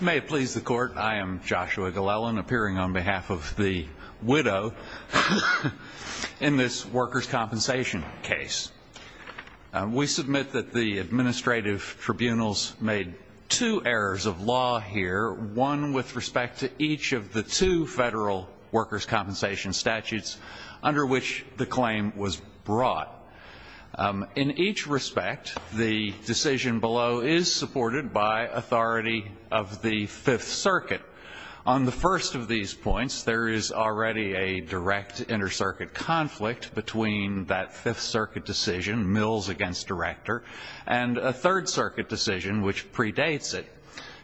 May it please the Court, I am Joshua Glellen, appearing on behalf of the widow in this workers' compensation case. We submit that the administrative tribunals made two errors of law here, one with respect to each of the two federal workers' compensation statutes under which the claim was brought. In each respect, the decision below is supported by authority of the Fifth Circuit. On the first of these points, there is already a direct inter-circuit conflict between that Fifth Circuit decision, Mills v. Director, and a Third Circuit decision which predates it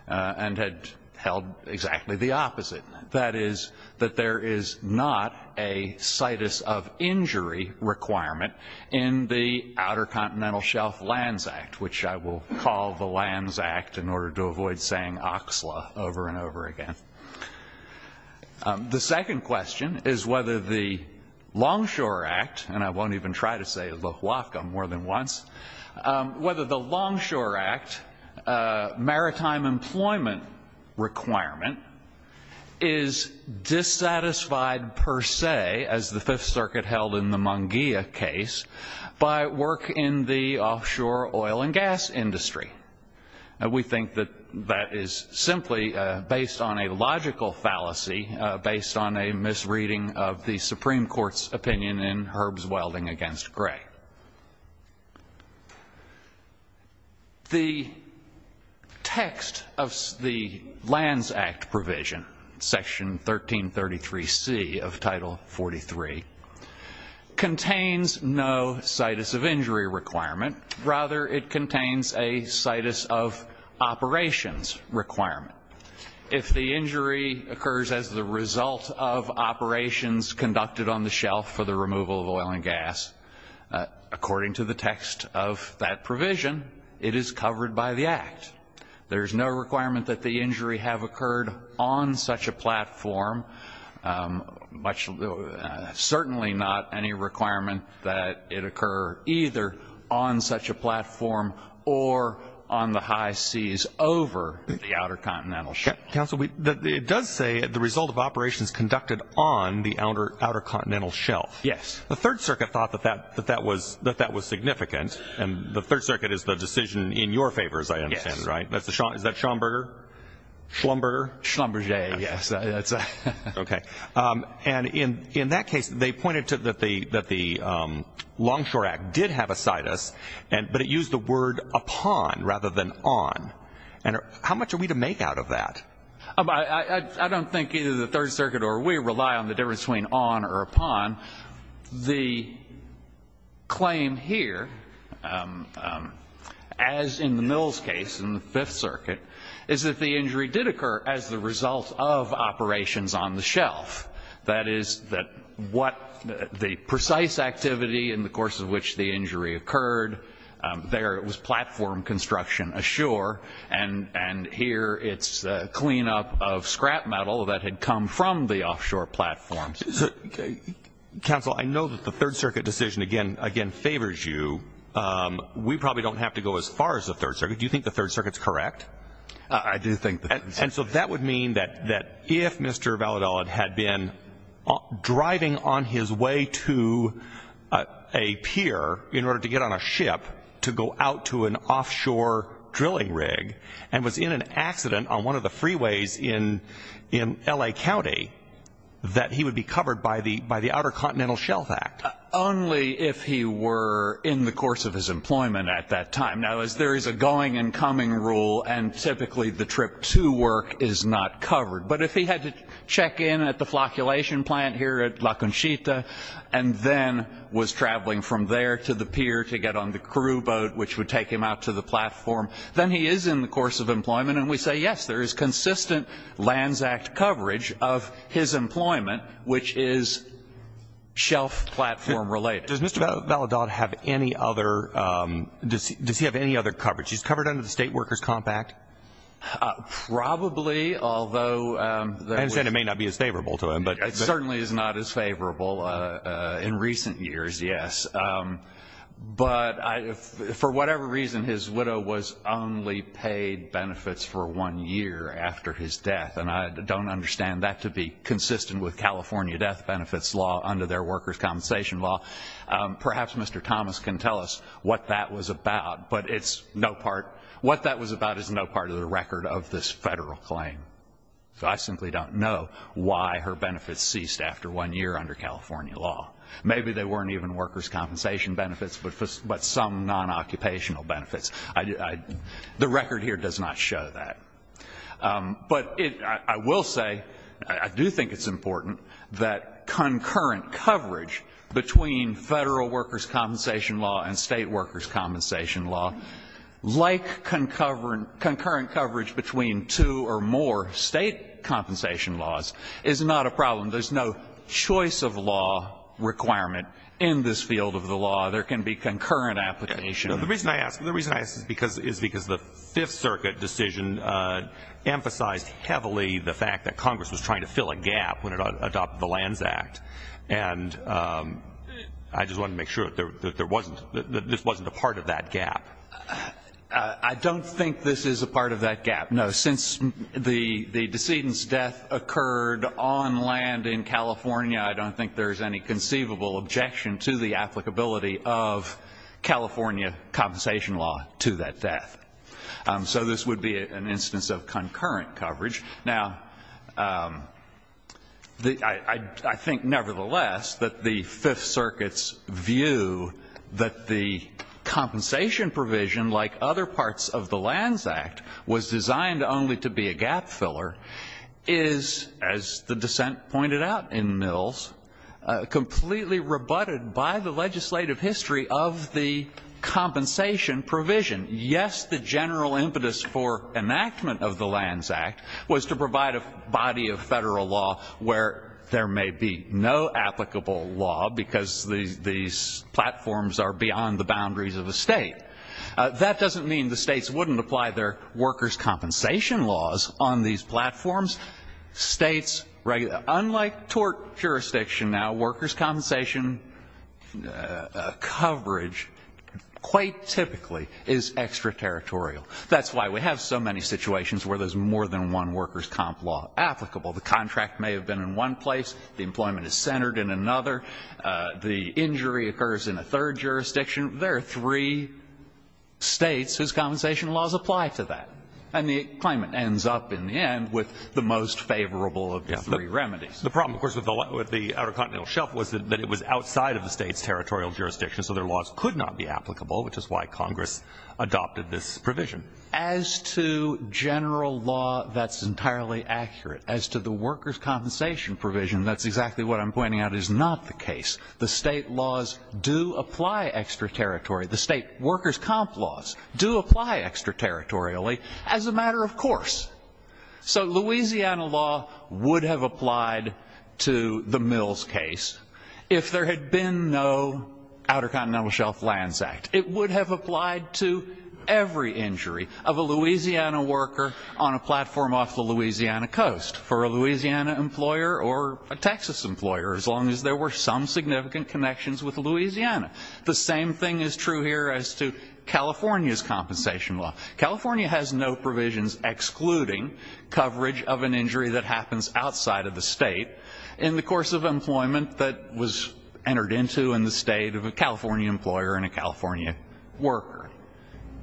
and had held exactly the opposite. That is, that there is not a Citus of Injury requirement in the Outer Continental Shelf Lands Act, which I will call the Lands Act in order to avoid saying Oxla over and over again. The second question is whether the Longshore Act, and I won't even try to say the HUAFCA more than once, whether the Longshore Act maritime employment requirement is dissatisfied per se, as the Fifth Circuit held in the Munguia case, by work in the offshore oil and gas industry. We think that that is simply based on a logical fallacy, based on a misreading of the Supreme Court's opinion in Herb's Welding v. Gray. The text of the Lands Act provision, Section 1333C of Title 43, contains no Citus of Injury requirement. Rather, it contains a Citus of Operations requirement. If the injury occurs as the result of operations conducted on the shelf for the removal of oil and gas, according to the text of that provision, it is covered by the Act. There is no requirement that the injury have occurred on such a platform, certainly not any requirement that it occur either on such a platform or on the high seas over the Outer Continental Shelf. Counsel, it does say the result of operations conducted on the Outer Continental Shelf. Yes. The Third Circuit thought that that was significant, and the Third Circuit is the decision in your favor, as I understand it, right? Yes. Is that Schomburger? Schlumberger, yes. Okay. And in that case, they pointed to that the Longshore Act did have a Citus, but it used the word upon rather than on. And how much are we to make out of that? I don't think either the Third Circuit or we rely on the difference between on or upon. The claim here, as in the Mills case in the Fifth Circuit, is that the injury did occur as the result of operations on the shelf. That is, that what the precise activity in the course of which the injury occurred, there it was platform construction ashore, and here it's cleanup of scrap metal that had come from the offshore platforms. Counsel, I know that the Third Circuit decision, again, favors you. We probably don't have to go as far as the Third Circuit. Do you think the Third Circuit is correct? I do think the Third Circuit is correct. And so that would mean that if Mr. Valladolid had been driving on his way to a pier in order to get on a ship to go out to an offshore drilling rig and was in an accident on one of the freeways in L.A. County, that he would be covered by the Outer Continental Shelf Act. Only if he were in the course of his employment at that time. Now, as there is a going and coming rule, and typically the trip to work is not covered. But if he had to check in at the flocculation plant here at La Conchita and then was traveling from there to the pier to get on the crew boat, which would take him out to the platform, then he is in the course of employment. And we say, yes, there is consistent Lands Act coverage of his employment, which is shelf platform related. Does Mr. Valladolid have any other coverage? He's covered under the State Workers' Comp Act? Probably, although – I understand it may not be as favorable to him. It certainly is not as favorable in recent years, yes. But for whatever reason, his widow was only paid benefits for one year after his death. And I don't understand that to be consistent with California death benefits law under their workers' compensation law. Perhaps Mr. Thomas can tell us what that was about. But what that was about is no part of the record of this Federal claim. So I simply don't know why her benefits ceased after one year under California law. Maybe they weren't even workers' compensation benefits, but some non-occupational benefits. The record here does not show that. But I will say, I do think it's important that concurrent coverage between Federal workers' compensation law and State workers' compensation law, like concurrent coverage between two or more State compensation laws, is not a problem. There's no choice of law requirement in this field of the law. There can be concurrent application. The reason I ask is because the Fifth Circuit decision emphasized heavily the fact that Congress was trying to fill a gap when it adopted the Lands Act. And I just wanted to make sure that this wasn't a part of that gap. I don't think this is a part of that gap, no. Since the decedent's death occurred on land in California, I don't think there's any conceivable objection to the applicability of California compensation law to that death. So this would be an instance of concurrent coverage. Now, I think nevertheless that the Fifth Circuit's view that the compensation provision, like other parts of the Lands Act, was designed only to be a gap filler, is, as the decedent pointed out in Mills, completely rebutted by the legislative history of the compensation provision. Yes, the general impetus for enactment of the Lands Act was to provide a body of Federal law where there may be no applicable law because these platforms are beyond the boundaries of a State. That doesn't mean the States wouldn't apply their workers' compensation laws on these platforms. States, unlike tort jurisdiction now, workers' compensation coverage quite typically is extraterritorial. That's why we have so many situations where there's more than one workers' comp law applicable. The contract may have been in one place. The employment is centered in another. The injury occurs in a third jurisdiction. There are three States whose compensation laws apply to that. And the claimant ends up in the end with the most favorable of the three remedies. The problem, of course, with the Outer Continental Shelf was that it was outside of the State's territorial jurisdiction, so their laws could not be applicable, which is why Congress adopted this provision. As to general law, that's entirely accurate. As to the workers' compensation provision, that's exactly what I'm pointing out is not the case. The State laws do apply extraterritorially. The State workers' comp laws do apply extraterritorially as a matter of course. So Louisiana law would have applied to the Mills case if there had been no Outer Continental Shelf Lands Act. It would have applied to every injury of a Louisiana worker on a platform off the Louisiana coast, for a Louisiana employer or a Texas employer, as long as there were some significant connections with Louisiana. The same thing is true here as to California's compensation law. California has no provisions excluding coverage of an injury that happens outside of the State in the course of employment that was entered into in the State of a California employer and a California worker.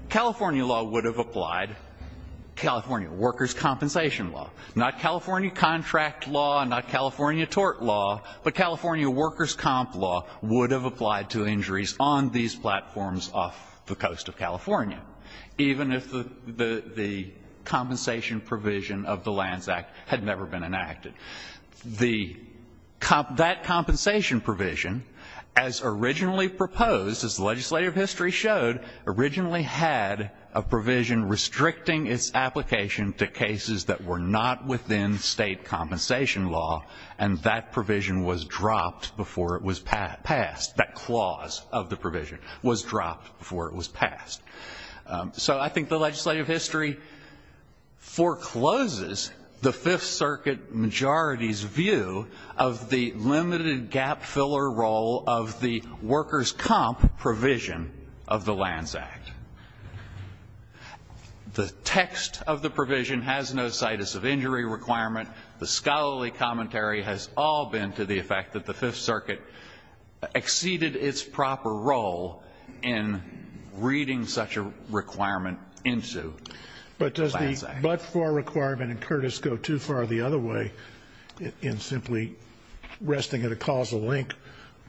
California law would have applied. California workers' compensation law. Not California contract law, not California tort law, but California workers' comp law would have applied to injuries on these platforms off the coast of California, even if the compensation provision of the Lands Act had never been enacted. That compensation provision, as originally proposed, as legislative history showed, originally had a provision restricting its application to cases that were not within State compensation law, and that provision was dropped before it was passed. That clause of the provision was dropped before it was passed. So I think the legislative history forecloses the Fifth Circuit majority's view of the limited gap filler role of the workers' comp provision of the Lands Act. The text of the provision has no situs of injury requirement. The scholarly commentary has all been to the effect that the Fifth Circuit exceeded its proper role in reading such a requirement into the Lands Act. But does the but-for requirement in Curtis go too far the other way in simply resting at a causal link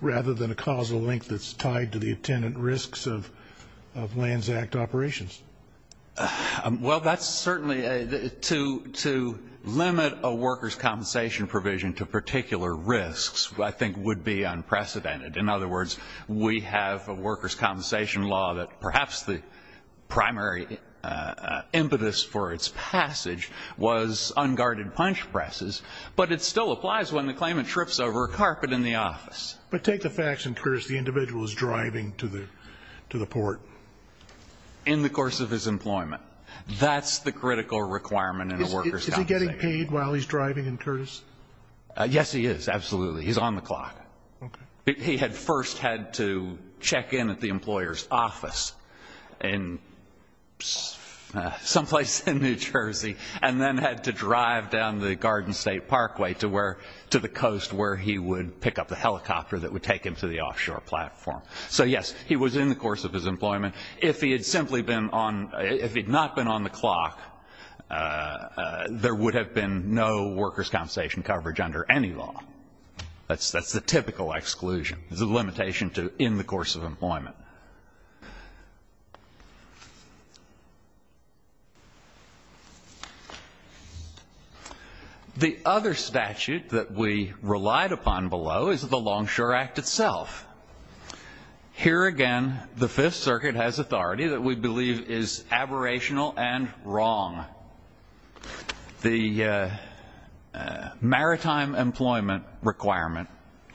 rather than a causal link that's tied to the attendant risks of Lands Act operations? Well, that's certainly a to limit a workers' compensation provision to particular risks I think would be unprecedented. In other words, we have a workers' compensation law that perhaps the primary impetus for its passage was unguarded punch presses, but it still applies when the claimant trips over a carpet in the office. But take the facts in Curtis, the individual is driving to the port. In the course of his employment. That's the critical requirement in a workers' compensation. Is he getting paid while he's driving in Curtis? Yes, he is, absolutely. He's on the clock. Okay. He had first had to check in at the employer's office in someplace in New Jersey and then had to drive down the Garden State Parkway to the coast where he would pick up the helicopter that would take him to the offshore platform. So, yes, he was in the course of his employment. If he had simply been on, if he had not been on the clock, there would have been no workers' compensation coverage under any law. That's the typical exclusion. There's a limitation to in the course of employment. The other statute that we relied upon below is the Longshore Act itself. Here again, the Fifth Circuit has authority that we believe is aberrational and wrong. The Maritime Employment Requirement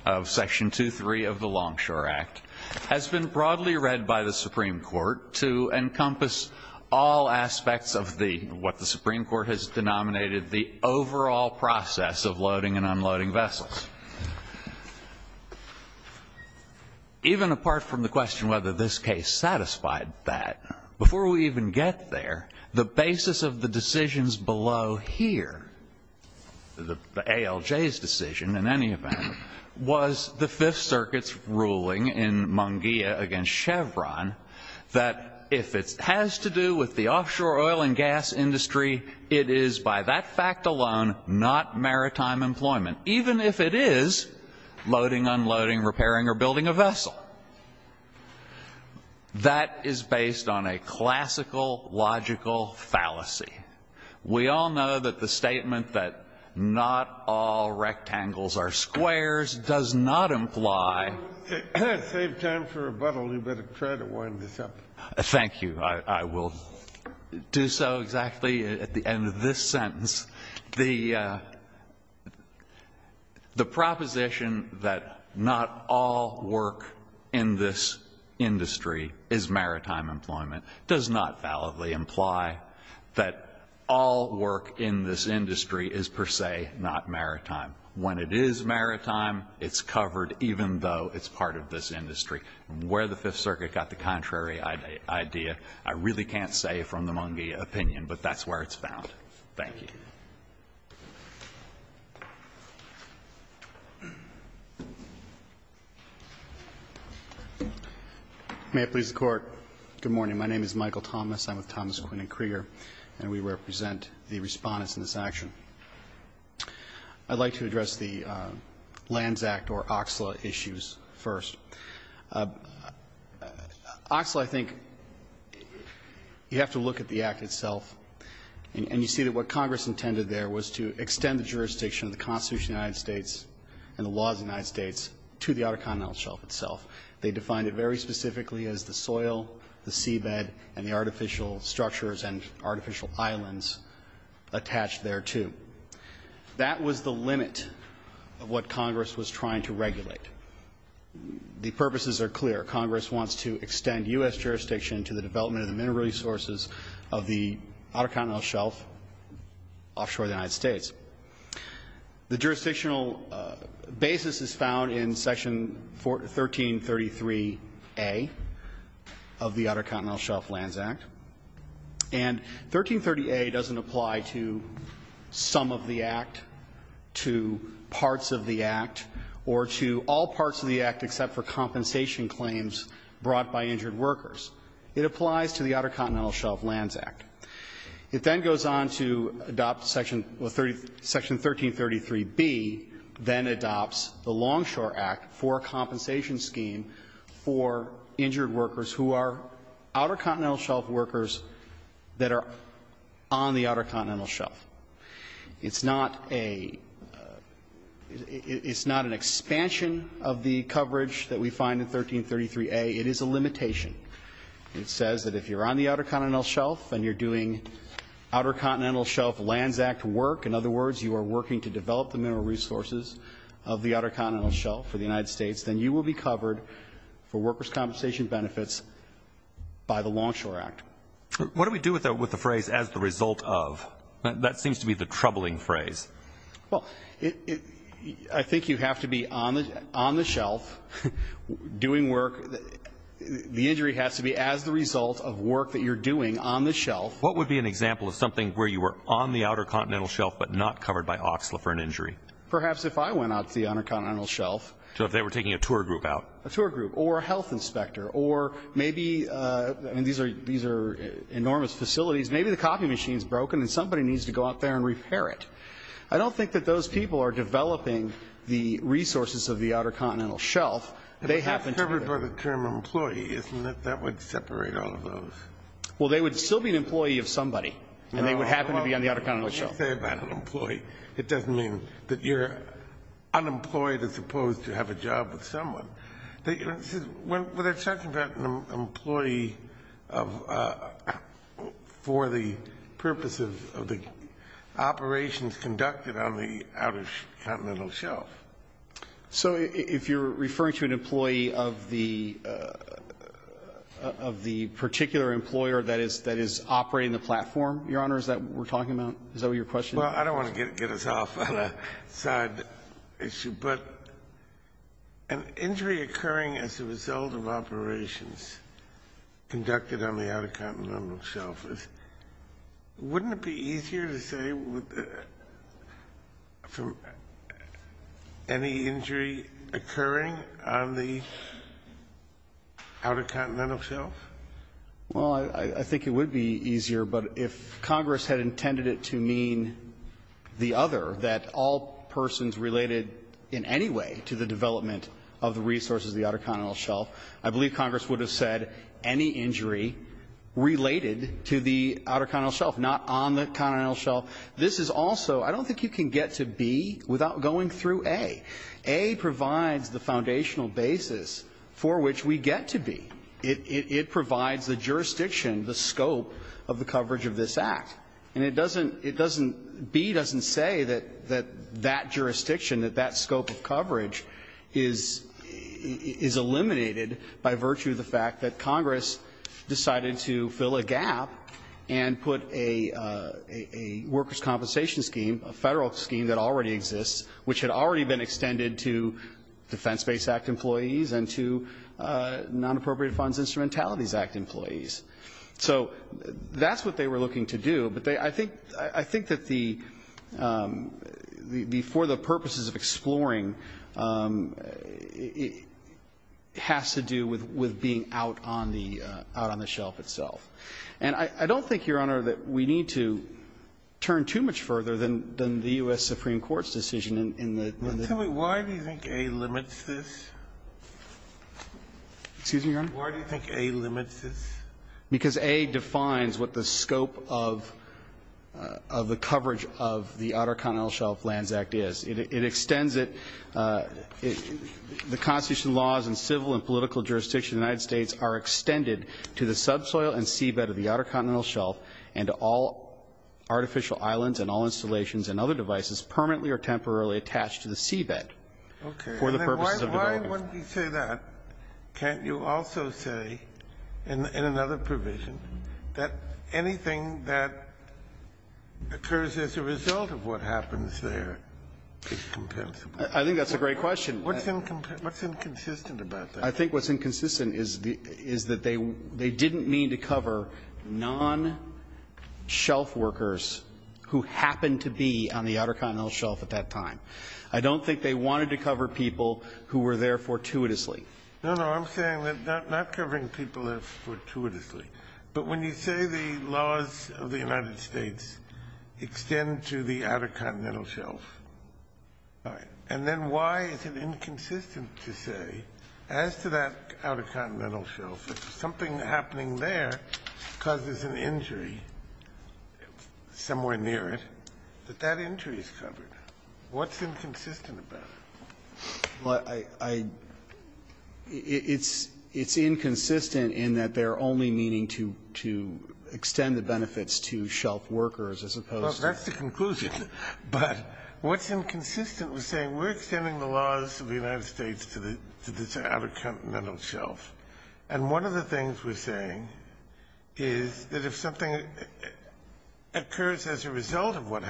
of Section 2.3 of the Longshore Act has been broadly read by the Supreme Court to encompass all aspects of the, what the Supreme Court has denominated the overall process of loading and unloading vessels. Even apart from the question whether this case satisfied that, before we even get there, the basis of the decisions below here, the ALJ's decision in any event, was the Fifth Circuit's ruling in Munguia against Chevron that if it has to do with the offshore oil and gas industry, it is by that fact alone not maritime employment. Even if it is loading, unloading, repairing, or building a vessel. That is based on a classical, logical fallacy. We all know that the statement that not all rectangles are squares does not imply That saves time for rebuttal. You better try to wind this up. Thank you. I will do so exactly at the end of this sentence. The proposition that not all work in this industry is maritime employment does not validly imply that all work in this industry is per se not maritime. When it is maritime, it's covered even though it's part of this industry. Where the Fifth Circuit got the contrary idea, I really can't say from the Munguia opinion, but that's where it's found. Thank you. May it please the Court. Good morning. My name is Michael Thomas. I'm with Thomas Quinn and Krieger, and we represent the Respondents in this action. I'd like to address the Lands Act or OXLA issues first. OXLA, I think, you have to look at the Act itself, and you see that what Congress intended there was to extend the jurisdiction of the Constitution of the United States and the laws of the United States to the outer continental shelf itself. They defined it very specifically as the soil, the seabed, and the artificial structures and artificial islands attached there to. The purposes are clear. Congress wants to extend U.S. jurisdiction to the development of the mineral resources of the outer continental shelf offshore of the United States. The jurisdictional basis is found in Section 1333A of the Outer Continental Shelf Lands Act, and 1330A doesn't apply to some of the Act, to parts of the Act, or to all parts of the Act except for compensation claims brought by injured workers. It applies to the Outer Continental Shelf Lands Act. It then goes on to adopt Section 1333B, then adopts the Longshore Act for a compensation scheme for injured workers who are outer continental shelf workers that are on the outer continental shelf. It's not an expansion of the coverage that we find in 1333A. It is a limitation. It says that if you're on the outer continental shelf and you're doing Outer Continental Shelf Lands Act work, in other words, you are working to develop the mineral resources of the outer continental shelf for the United States, then you will be covered for workers' compensation benefits by the Longshore Act. What do we do with the phrase, as the result of? That seems to be the troubling phrase. Well, I think you have to be on the shelf doing work. The injury has to be as the result of work that you're doing on the shelf. What would be an example of something where you were on the outer continental shelf but not covered by OXLA for an injury? Perhaps if I went out to the outer continental shelf. So if they were taking a tour group out. A tour group or a health inspector or maybe, I mean, these are enormous facilities. Maybe the coffee machine is broken and somebody needs to go out there and repair it. I don't think that those people are developing the resources of the outer continental shelf. They happen to be. If it's covered by the term employee, isn't that what would separate all of those? Well, they would still be an employee of somebody and they would happen to be on the outer continental shelf. Well, what would you say about an employee? It doesn't mean that you're unemployed as opposed to have a job with someone. They're talking about an employee for the purpose of the operations conducted on the outer continental shelf. So if you're referring to an employee of the particular employer that is operating the platform, Your Honor, is that what we're talking about? Is that what your question is? Well, I don't want to get us off on a side issue. But an injury occurring as a result of operations conducted on the outer continental shelf, wouldn't it be easier to say any injury occurring on the outer continental shelf? Well, I think it would be easier, but if Congress had intended it to mean the other, that all persons related in any way to the development of the resources of the outer continental shelf, I believe Congress would have said any injury related to the outer continental shelf, not on the continental shelf. This is also, I don't think you can get to B without going through A. A provides the foundational basis for which we get to B. It provides the jurisdiction, the scope of the coverage of this Act. And it doesn't, it doesn't, B doesn't say that that jurisdiction, that that scope of coverage is eliminated by virtue of the fact that Congress decided to fill a gap and put a workers' compensation scheme, a Federal scheme that already exists, which had already been extended to Defense-Based Act employees and to Nonappropriate Funds Instrumentalities Act employees. So that's what they were looking to do, but they, I think, I think that the, the, for the purposes of exploring, it has to do with, with being out on the, out on the shelf itself. And I don't think, Your Honor, that we need to turn too much further than, than the U.S. Supreme Court's decision in the. Tell me, why do you think A limits this? Excuse me, Your Honor? Why do you think A limits this? Because A defines what the scope of, of the coverage of the Outer Continental Shelf Lands Act is. It, it extends it, it, the constitutional laws and civil and political jurisdiction in the United States are extended to the subsoil and seabed of the Outer Continental Shelf and to all artificial islands and all installations and other devices permanently or temporarily attached to the seabed for the purposes of development. If I wanted to say that, can't you also say in, in another provision that anything that occurs as a result of what happens there is compensable? I think that's a great question. What's, what's inconsistent about that? I think what's inconsistent is the, is that they, they didn't mean to cover non-shelf workers who happened to be on the Outer Continental Shelf at that time. I don't think they wanted to cover people who were there fortuitously. No, no. I'm saying that not, not covering people there fortuitously. But when you say the laws of the United States extend to the Outer Continental Shelf, and then why is it inconsistent to say as to that Outer Continental Shelf, if something happening there causes an injury somewhere near it, that that injury is covered? What's inconsistent about it? Well, I, I, it's, it's inconsistent in that they're only meaning to, to extend the benefits to shelf workers as opposed to the other. Well, that's the conclusion. But what's inconsistent is saying we're extending the laws of the United States to the, to the Outer Continental Shelf. And one of the things we're saying is that if something occurs as a result of what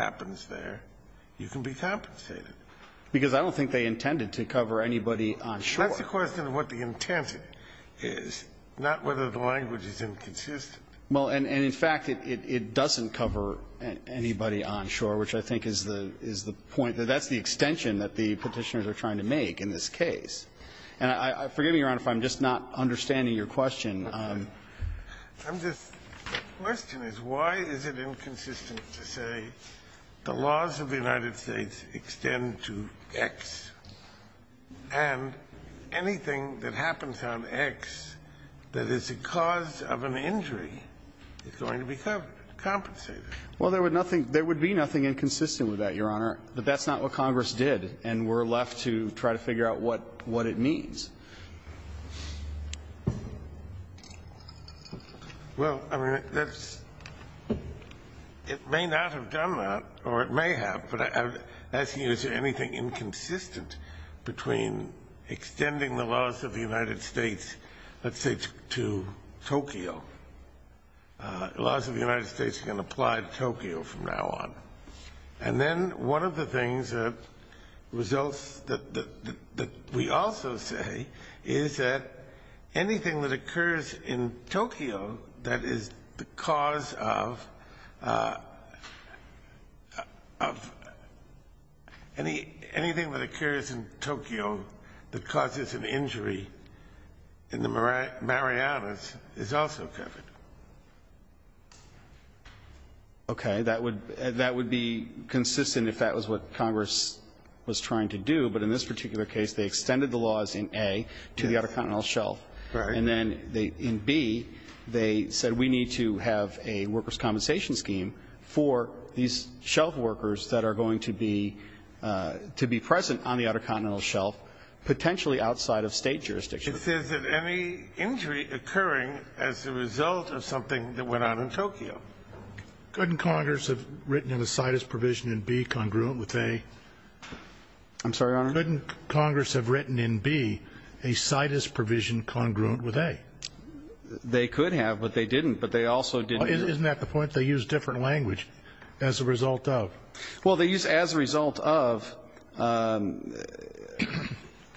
Because I don't think they intended to cover anybody onshore. That's the question of what the intent is, not whether the language is inconsistent. Well, and, and in fact, it, it, it doesn't cover anybody onshore, which I think is the, is the point. That's the extension that the Petitioners are trying to make in this case. And I, I, forgive me, Your Honor, if I'm just not understanding your question. I'm just, the question is why is it inconsistent to say the laws of the United States extend to X, and anything that happens on X that is the cause of an injury is going to be covered, compensated? Well, there would nothing, there would be nothing inconsistent with that, Your Honor. But that's not what Congress did, and we're left to try to figure out what, what it means. Well, I mean, that's, it may not have done that, or it may have, but I, I, I don't know, I'm not asking you is there anything inconsistent between extending the laws of the United States, let's say, to Tokyo. Laws of the United States can apply to Tokyo from now on. And then one of the things that results, that, that, that we also say is that anything that occurs in Tokyo that causes an injury in the Marianas is also covered. Okay. That would, that would be consistent if that was what Congress was trying to do. But in this particular case, they extended the laws in A to the Outer Continental Shelf. Right. And then they, in B, they said we need to have a workers' compensation scheme for these shelf workers that are going to be, to be present on the Outer Continental Shelf, potentially outside of state jurisdiction. It says that any injury occurring as a result of something that went on in Tokyo. Couldn't Congress have written in a situs provision in B congruent with A? I'm sorry, Your Honor? Couldn't Congress have written in B a situs provision congruent with A? They could have, but they didn't, but they also didn't. Isn't that the point? They use different language as a result of. Well, they use as a result of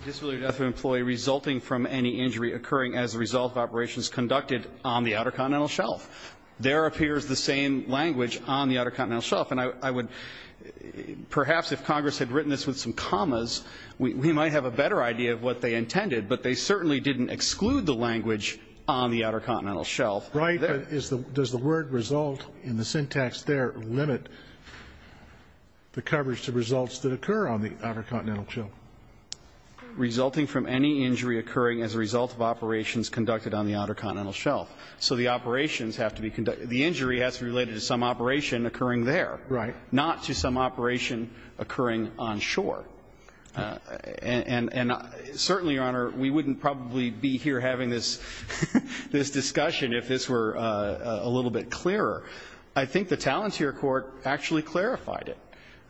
disability or death of an employee resulting from any injury occurring as a result of operations conducted on the Outer Continental Shelf. There appears the same language on the Outer Continental Shelf. And I, I would, perhaps if Congress had written this with some commas, we, we might have a better idea of what they intended, but they certainly didn't exclude the language on the Outer Continental Shelf. Right. But is the, does the word result in the syntax there limit the coverage to results that occur on the Outer Continental Shelf? Resulting from any injury occurring as a result of operations conducted on the Outer Continental Shelf. So the operations have to be conducted. The injury has to be related to some operation occurring there. Not to some operation occurring onshore. And, and certainly, Your Honor, we wouldn't probably be here having this, this discussion if this were a little bit clearer. I think the Talenteer Court actually clarified it.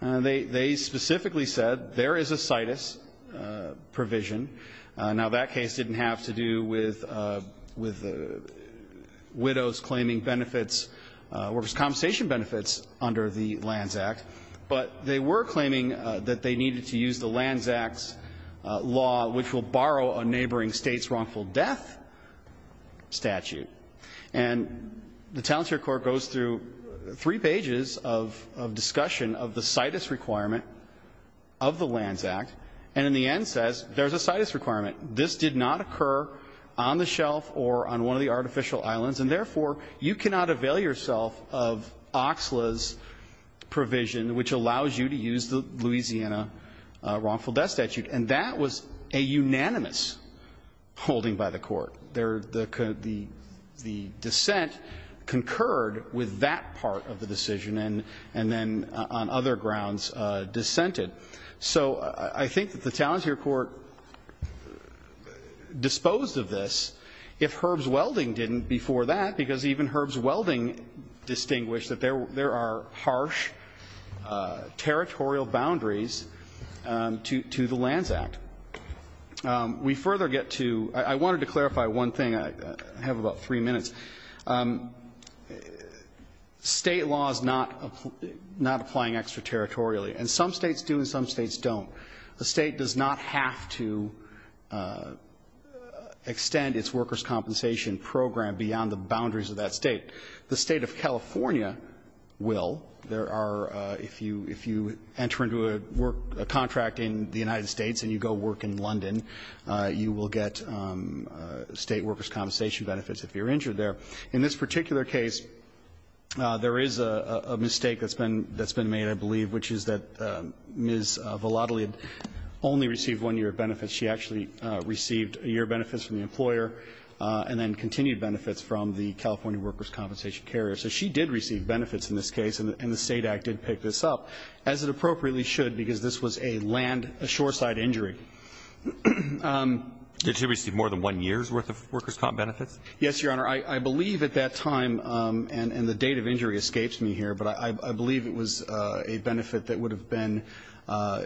They, they specifically said there is a situs provision. Now, that case didn't have to do with, with widows claiming benefits or compensation benefits under the Lands Act. But they were claiming that they needed to use the Lands Act's law, which will borrow a neighboring state's wrongful death statute. And the Talenteer Court goes through three pages of, of discussion of the situs requirement of the Lands Act. And in the end says, there's a situs requirement. This did not occur on the shelf or on one of the artificial islands. And therefore, you cannot avail yourself of OXLA's provision, which allows you to use the Louisiana wrongful death statute. And that was a unanimous holding by the court. There, the, the, the dissent concurred with that part of the decision. And, and then on other grounds dissented. So, I, I think that the Talenteer Court disposed of this if Herb's Welding didn't before that. Because even Herb's Welding distinguished that there, there are harsh territorial boundaries to, to the Lands Act. We further get to, I, I wanted to clarify one thing. I, I have about three minutes. State law is not, not applying extraterritorially. And some states do and some states don't. The State does not have to extend its workers' compensation program beyond the boundaries of that State. The State of California will. There are, if you, if you enter into a work, a contract in the United States and you go work in London, you will get State workers' compensation benefits if you're injured there. In this particular case, there is a, a mistake that's been, that's been made, I believe, which is that Ms. Vallottolid only received one year of benefits. She actually received a year of benefits from the employer and then continued benefits from the California workers' compensation carrier. So she did receive benefits in this case and, and the State Act did pick this up, as it appropriately should, because this was a land, a shore-side injury. Did she receive more than one year's worth of workers' comp benefits? Yes, Your Honor. I, I believe at that time, and, and the date of injury escapes me here, but I, I believe it was a benefit that would have been,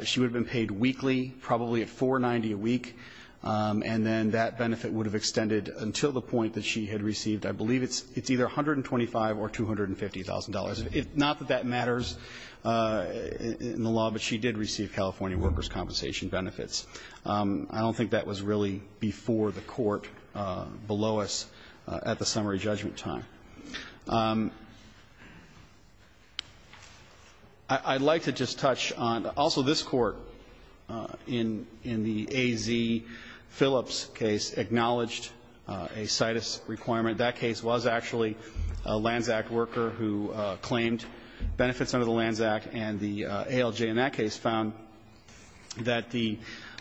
she would have been paid weekly, probably at 490 a week. And then that benefit would have extended until the point that she had received. I believe it's, it's either $125,000 or $250,000. If, not that that matters in the law, but she did receive California workers' compensation benefits. I don't think that was really before the court below us at the summary judgment time. I, I'd like to just touch on, also this Court in, in the A.Z. Phillips case acknowledged a CITUS requirement. That case was actually a Lands Act worker who claimed benefits under the Lands Act. And the ALJ in that case found that the,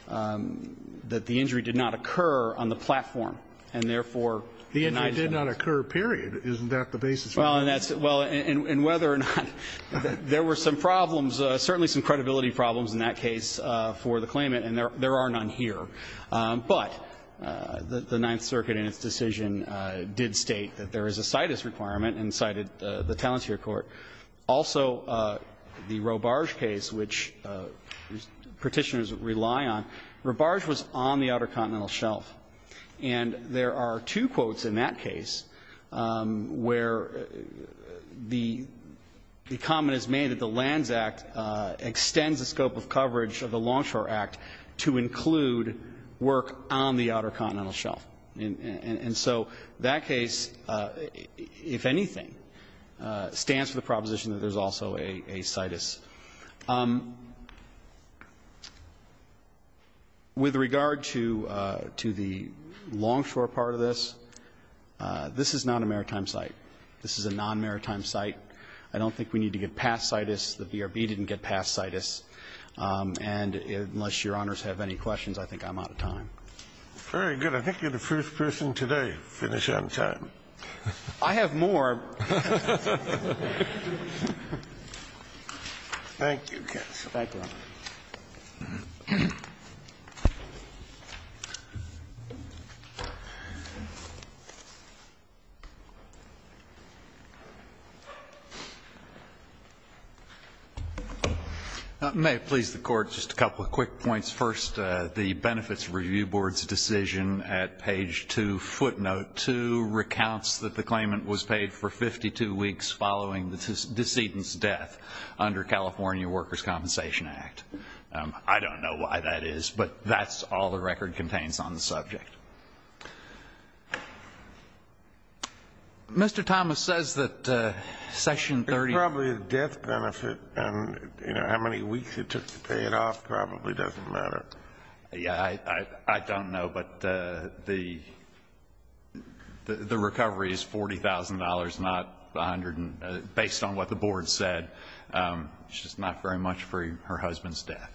that the injury did not occur on the platform and, therefore, denied it. The injury did not occur, period. Isn't that the basis for this? Well, and that's, well, and, and whether or not, there were some problems, certainly some credibility problems in that case for the claimant. And there, there are none here. But the, the Ninth Circuit in its decision did state that there is a CITUS requirement and cited the, the Talentier Court. Also, the Robarge case, which Petitioners rely on, Robarge was on the Outer Continental Shelf. And there are two quotes in that case where the, the comment is made that the Lands Act extends the scope of coverage of the Longshore Act to include work on the Outer Continental Shelf. And, and, and so that case, if anything, stands for the proposition that there's also a, a CITUS. With regard to, to the Longshore part of this, this is not a maritime site. This is a non-maritime site. I don't think we need to get past CITUS. The VRB didn't get past CITUS. And unless Your Honors have any questions, I think I'm out of time. Very good. I think you're the first person today to finish on time. I have more. Thank you, counsel. Thank you, Your Honor. May it please the Court, just a couple of quick points. First, the Benefits Review Board's decision at page 2, footnote 2, recounts that the claimant was paid for 52 weeks following the decedent's death under California Workers Compensation Act. I don't know why that is, but that's all the record contains on the subject. Mr. Thomas says that Section 30 It's probably a death benefit, and, you know, how many weeks it took to pay it off probably doesn't matter. Yeah, I, I, I don't know, but the, the, the recovery is $40,000, not 100, based on what the board said, which is not very much for her husband's death.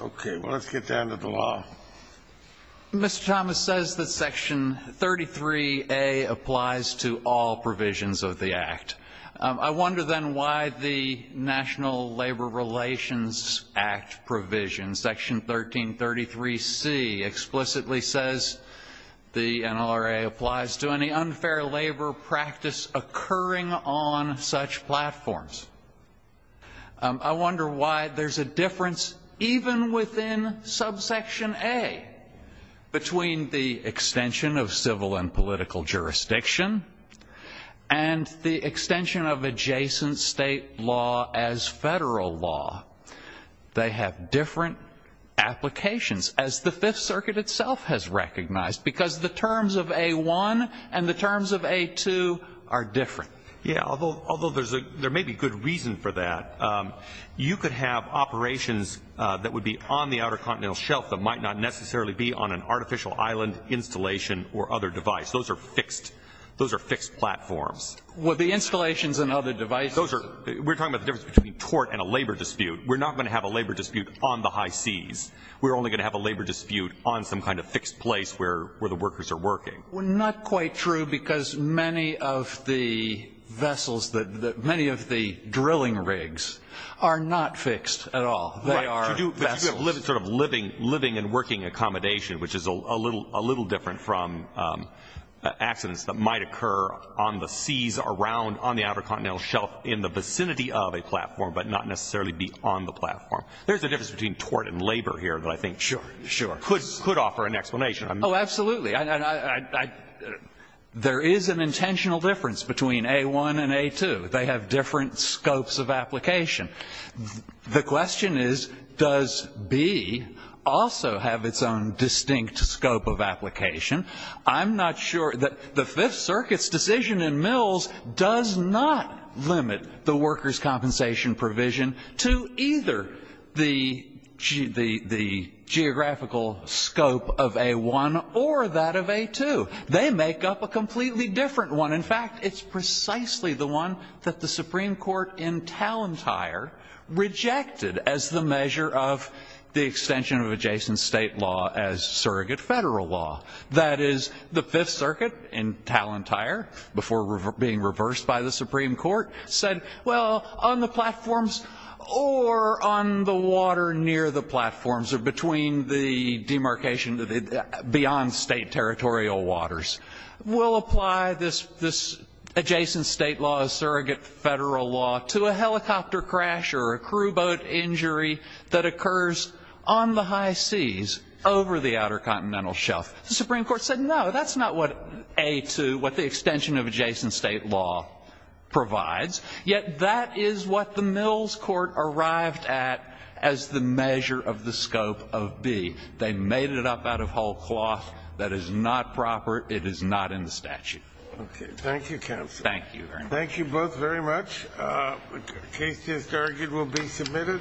Okay, well, let's get down to the law. Mr. Thomas says that Section 33A applies to all provisions of the Act. I wonder, then, why the National Labor Relations Act provision, Section 1333C, explicitly says the NLRA applies to any unfair labor practice occurring on such platforms. I wonder why there's a difference, even within subsection A, between the extension of civil and political jurisdiction and the extension of adjacent state law as federal law. They have different applications, as the Fifth Circuit itself has recognized, because the terms of A1 and the terms of A2 are different. Yeah, although, although there's a, there may be good reason for that. You could have operations that would be on the Outer Continental Shelf that might not necessarily be on an artificial island installation or other device. Those are fixed, those are fixed platforms. With the installations and other devices. Those are, we're talking about the difference between tort and a labor dispute. We're not going to have a labor dispute on the high seas. We're only going to have a labor dispute on some kind of fixed place where the workers are working. Well, not quite true, because many of the vessels, many of the drilling rigs are not fixed at all. They are vessels. Sort of living and working accommodation, which is a little different from accidents that might occur on the seas around, on the Outer Continental Shelf in the vicinity of a platform, but not necessarily be on the platform. There's a difference between tort and labor here that I think could offer an explanation. Oh, absolutely. And I, there is an intentional difference between A1 and A2. They have different scopes of application. The question is, does B also have its own distinct scope of application? I'm not sure that the Fifth Circuit's decision in Mills does not limit the workers' compensation provision to either the geographical scope of A1 or that of A2. They make up a completely different one. In fact, it's precisely the one that the Supreme Court in Talentire rejected as the measure of the extension of adjacent state law as surrogate federal law. That is, the Fifth Circuit in Talentire, before being reversed by the Supreme Court, said, well, on the platforms or on the water near the platforms or between the demarcation, beyond state territorial waters, we'll apply this adjacent state law as surrogate federal law to a helicopter crash or a crew boat injury that occurs on the high seas over the Outer Continental Shelf. The Supreme Court said, no, that's not what A2, what the extension of adjacent state law provides. Yet, that is what the Mills Court arrived at as the measure of the scope of B. They made it up out of whole cloth. That is not proper. It is not in the statute. Okay. Thank you, counsel. Thank you very much. Thank you both very much. The case just argued will be submitted.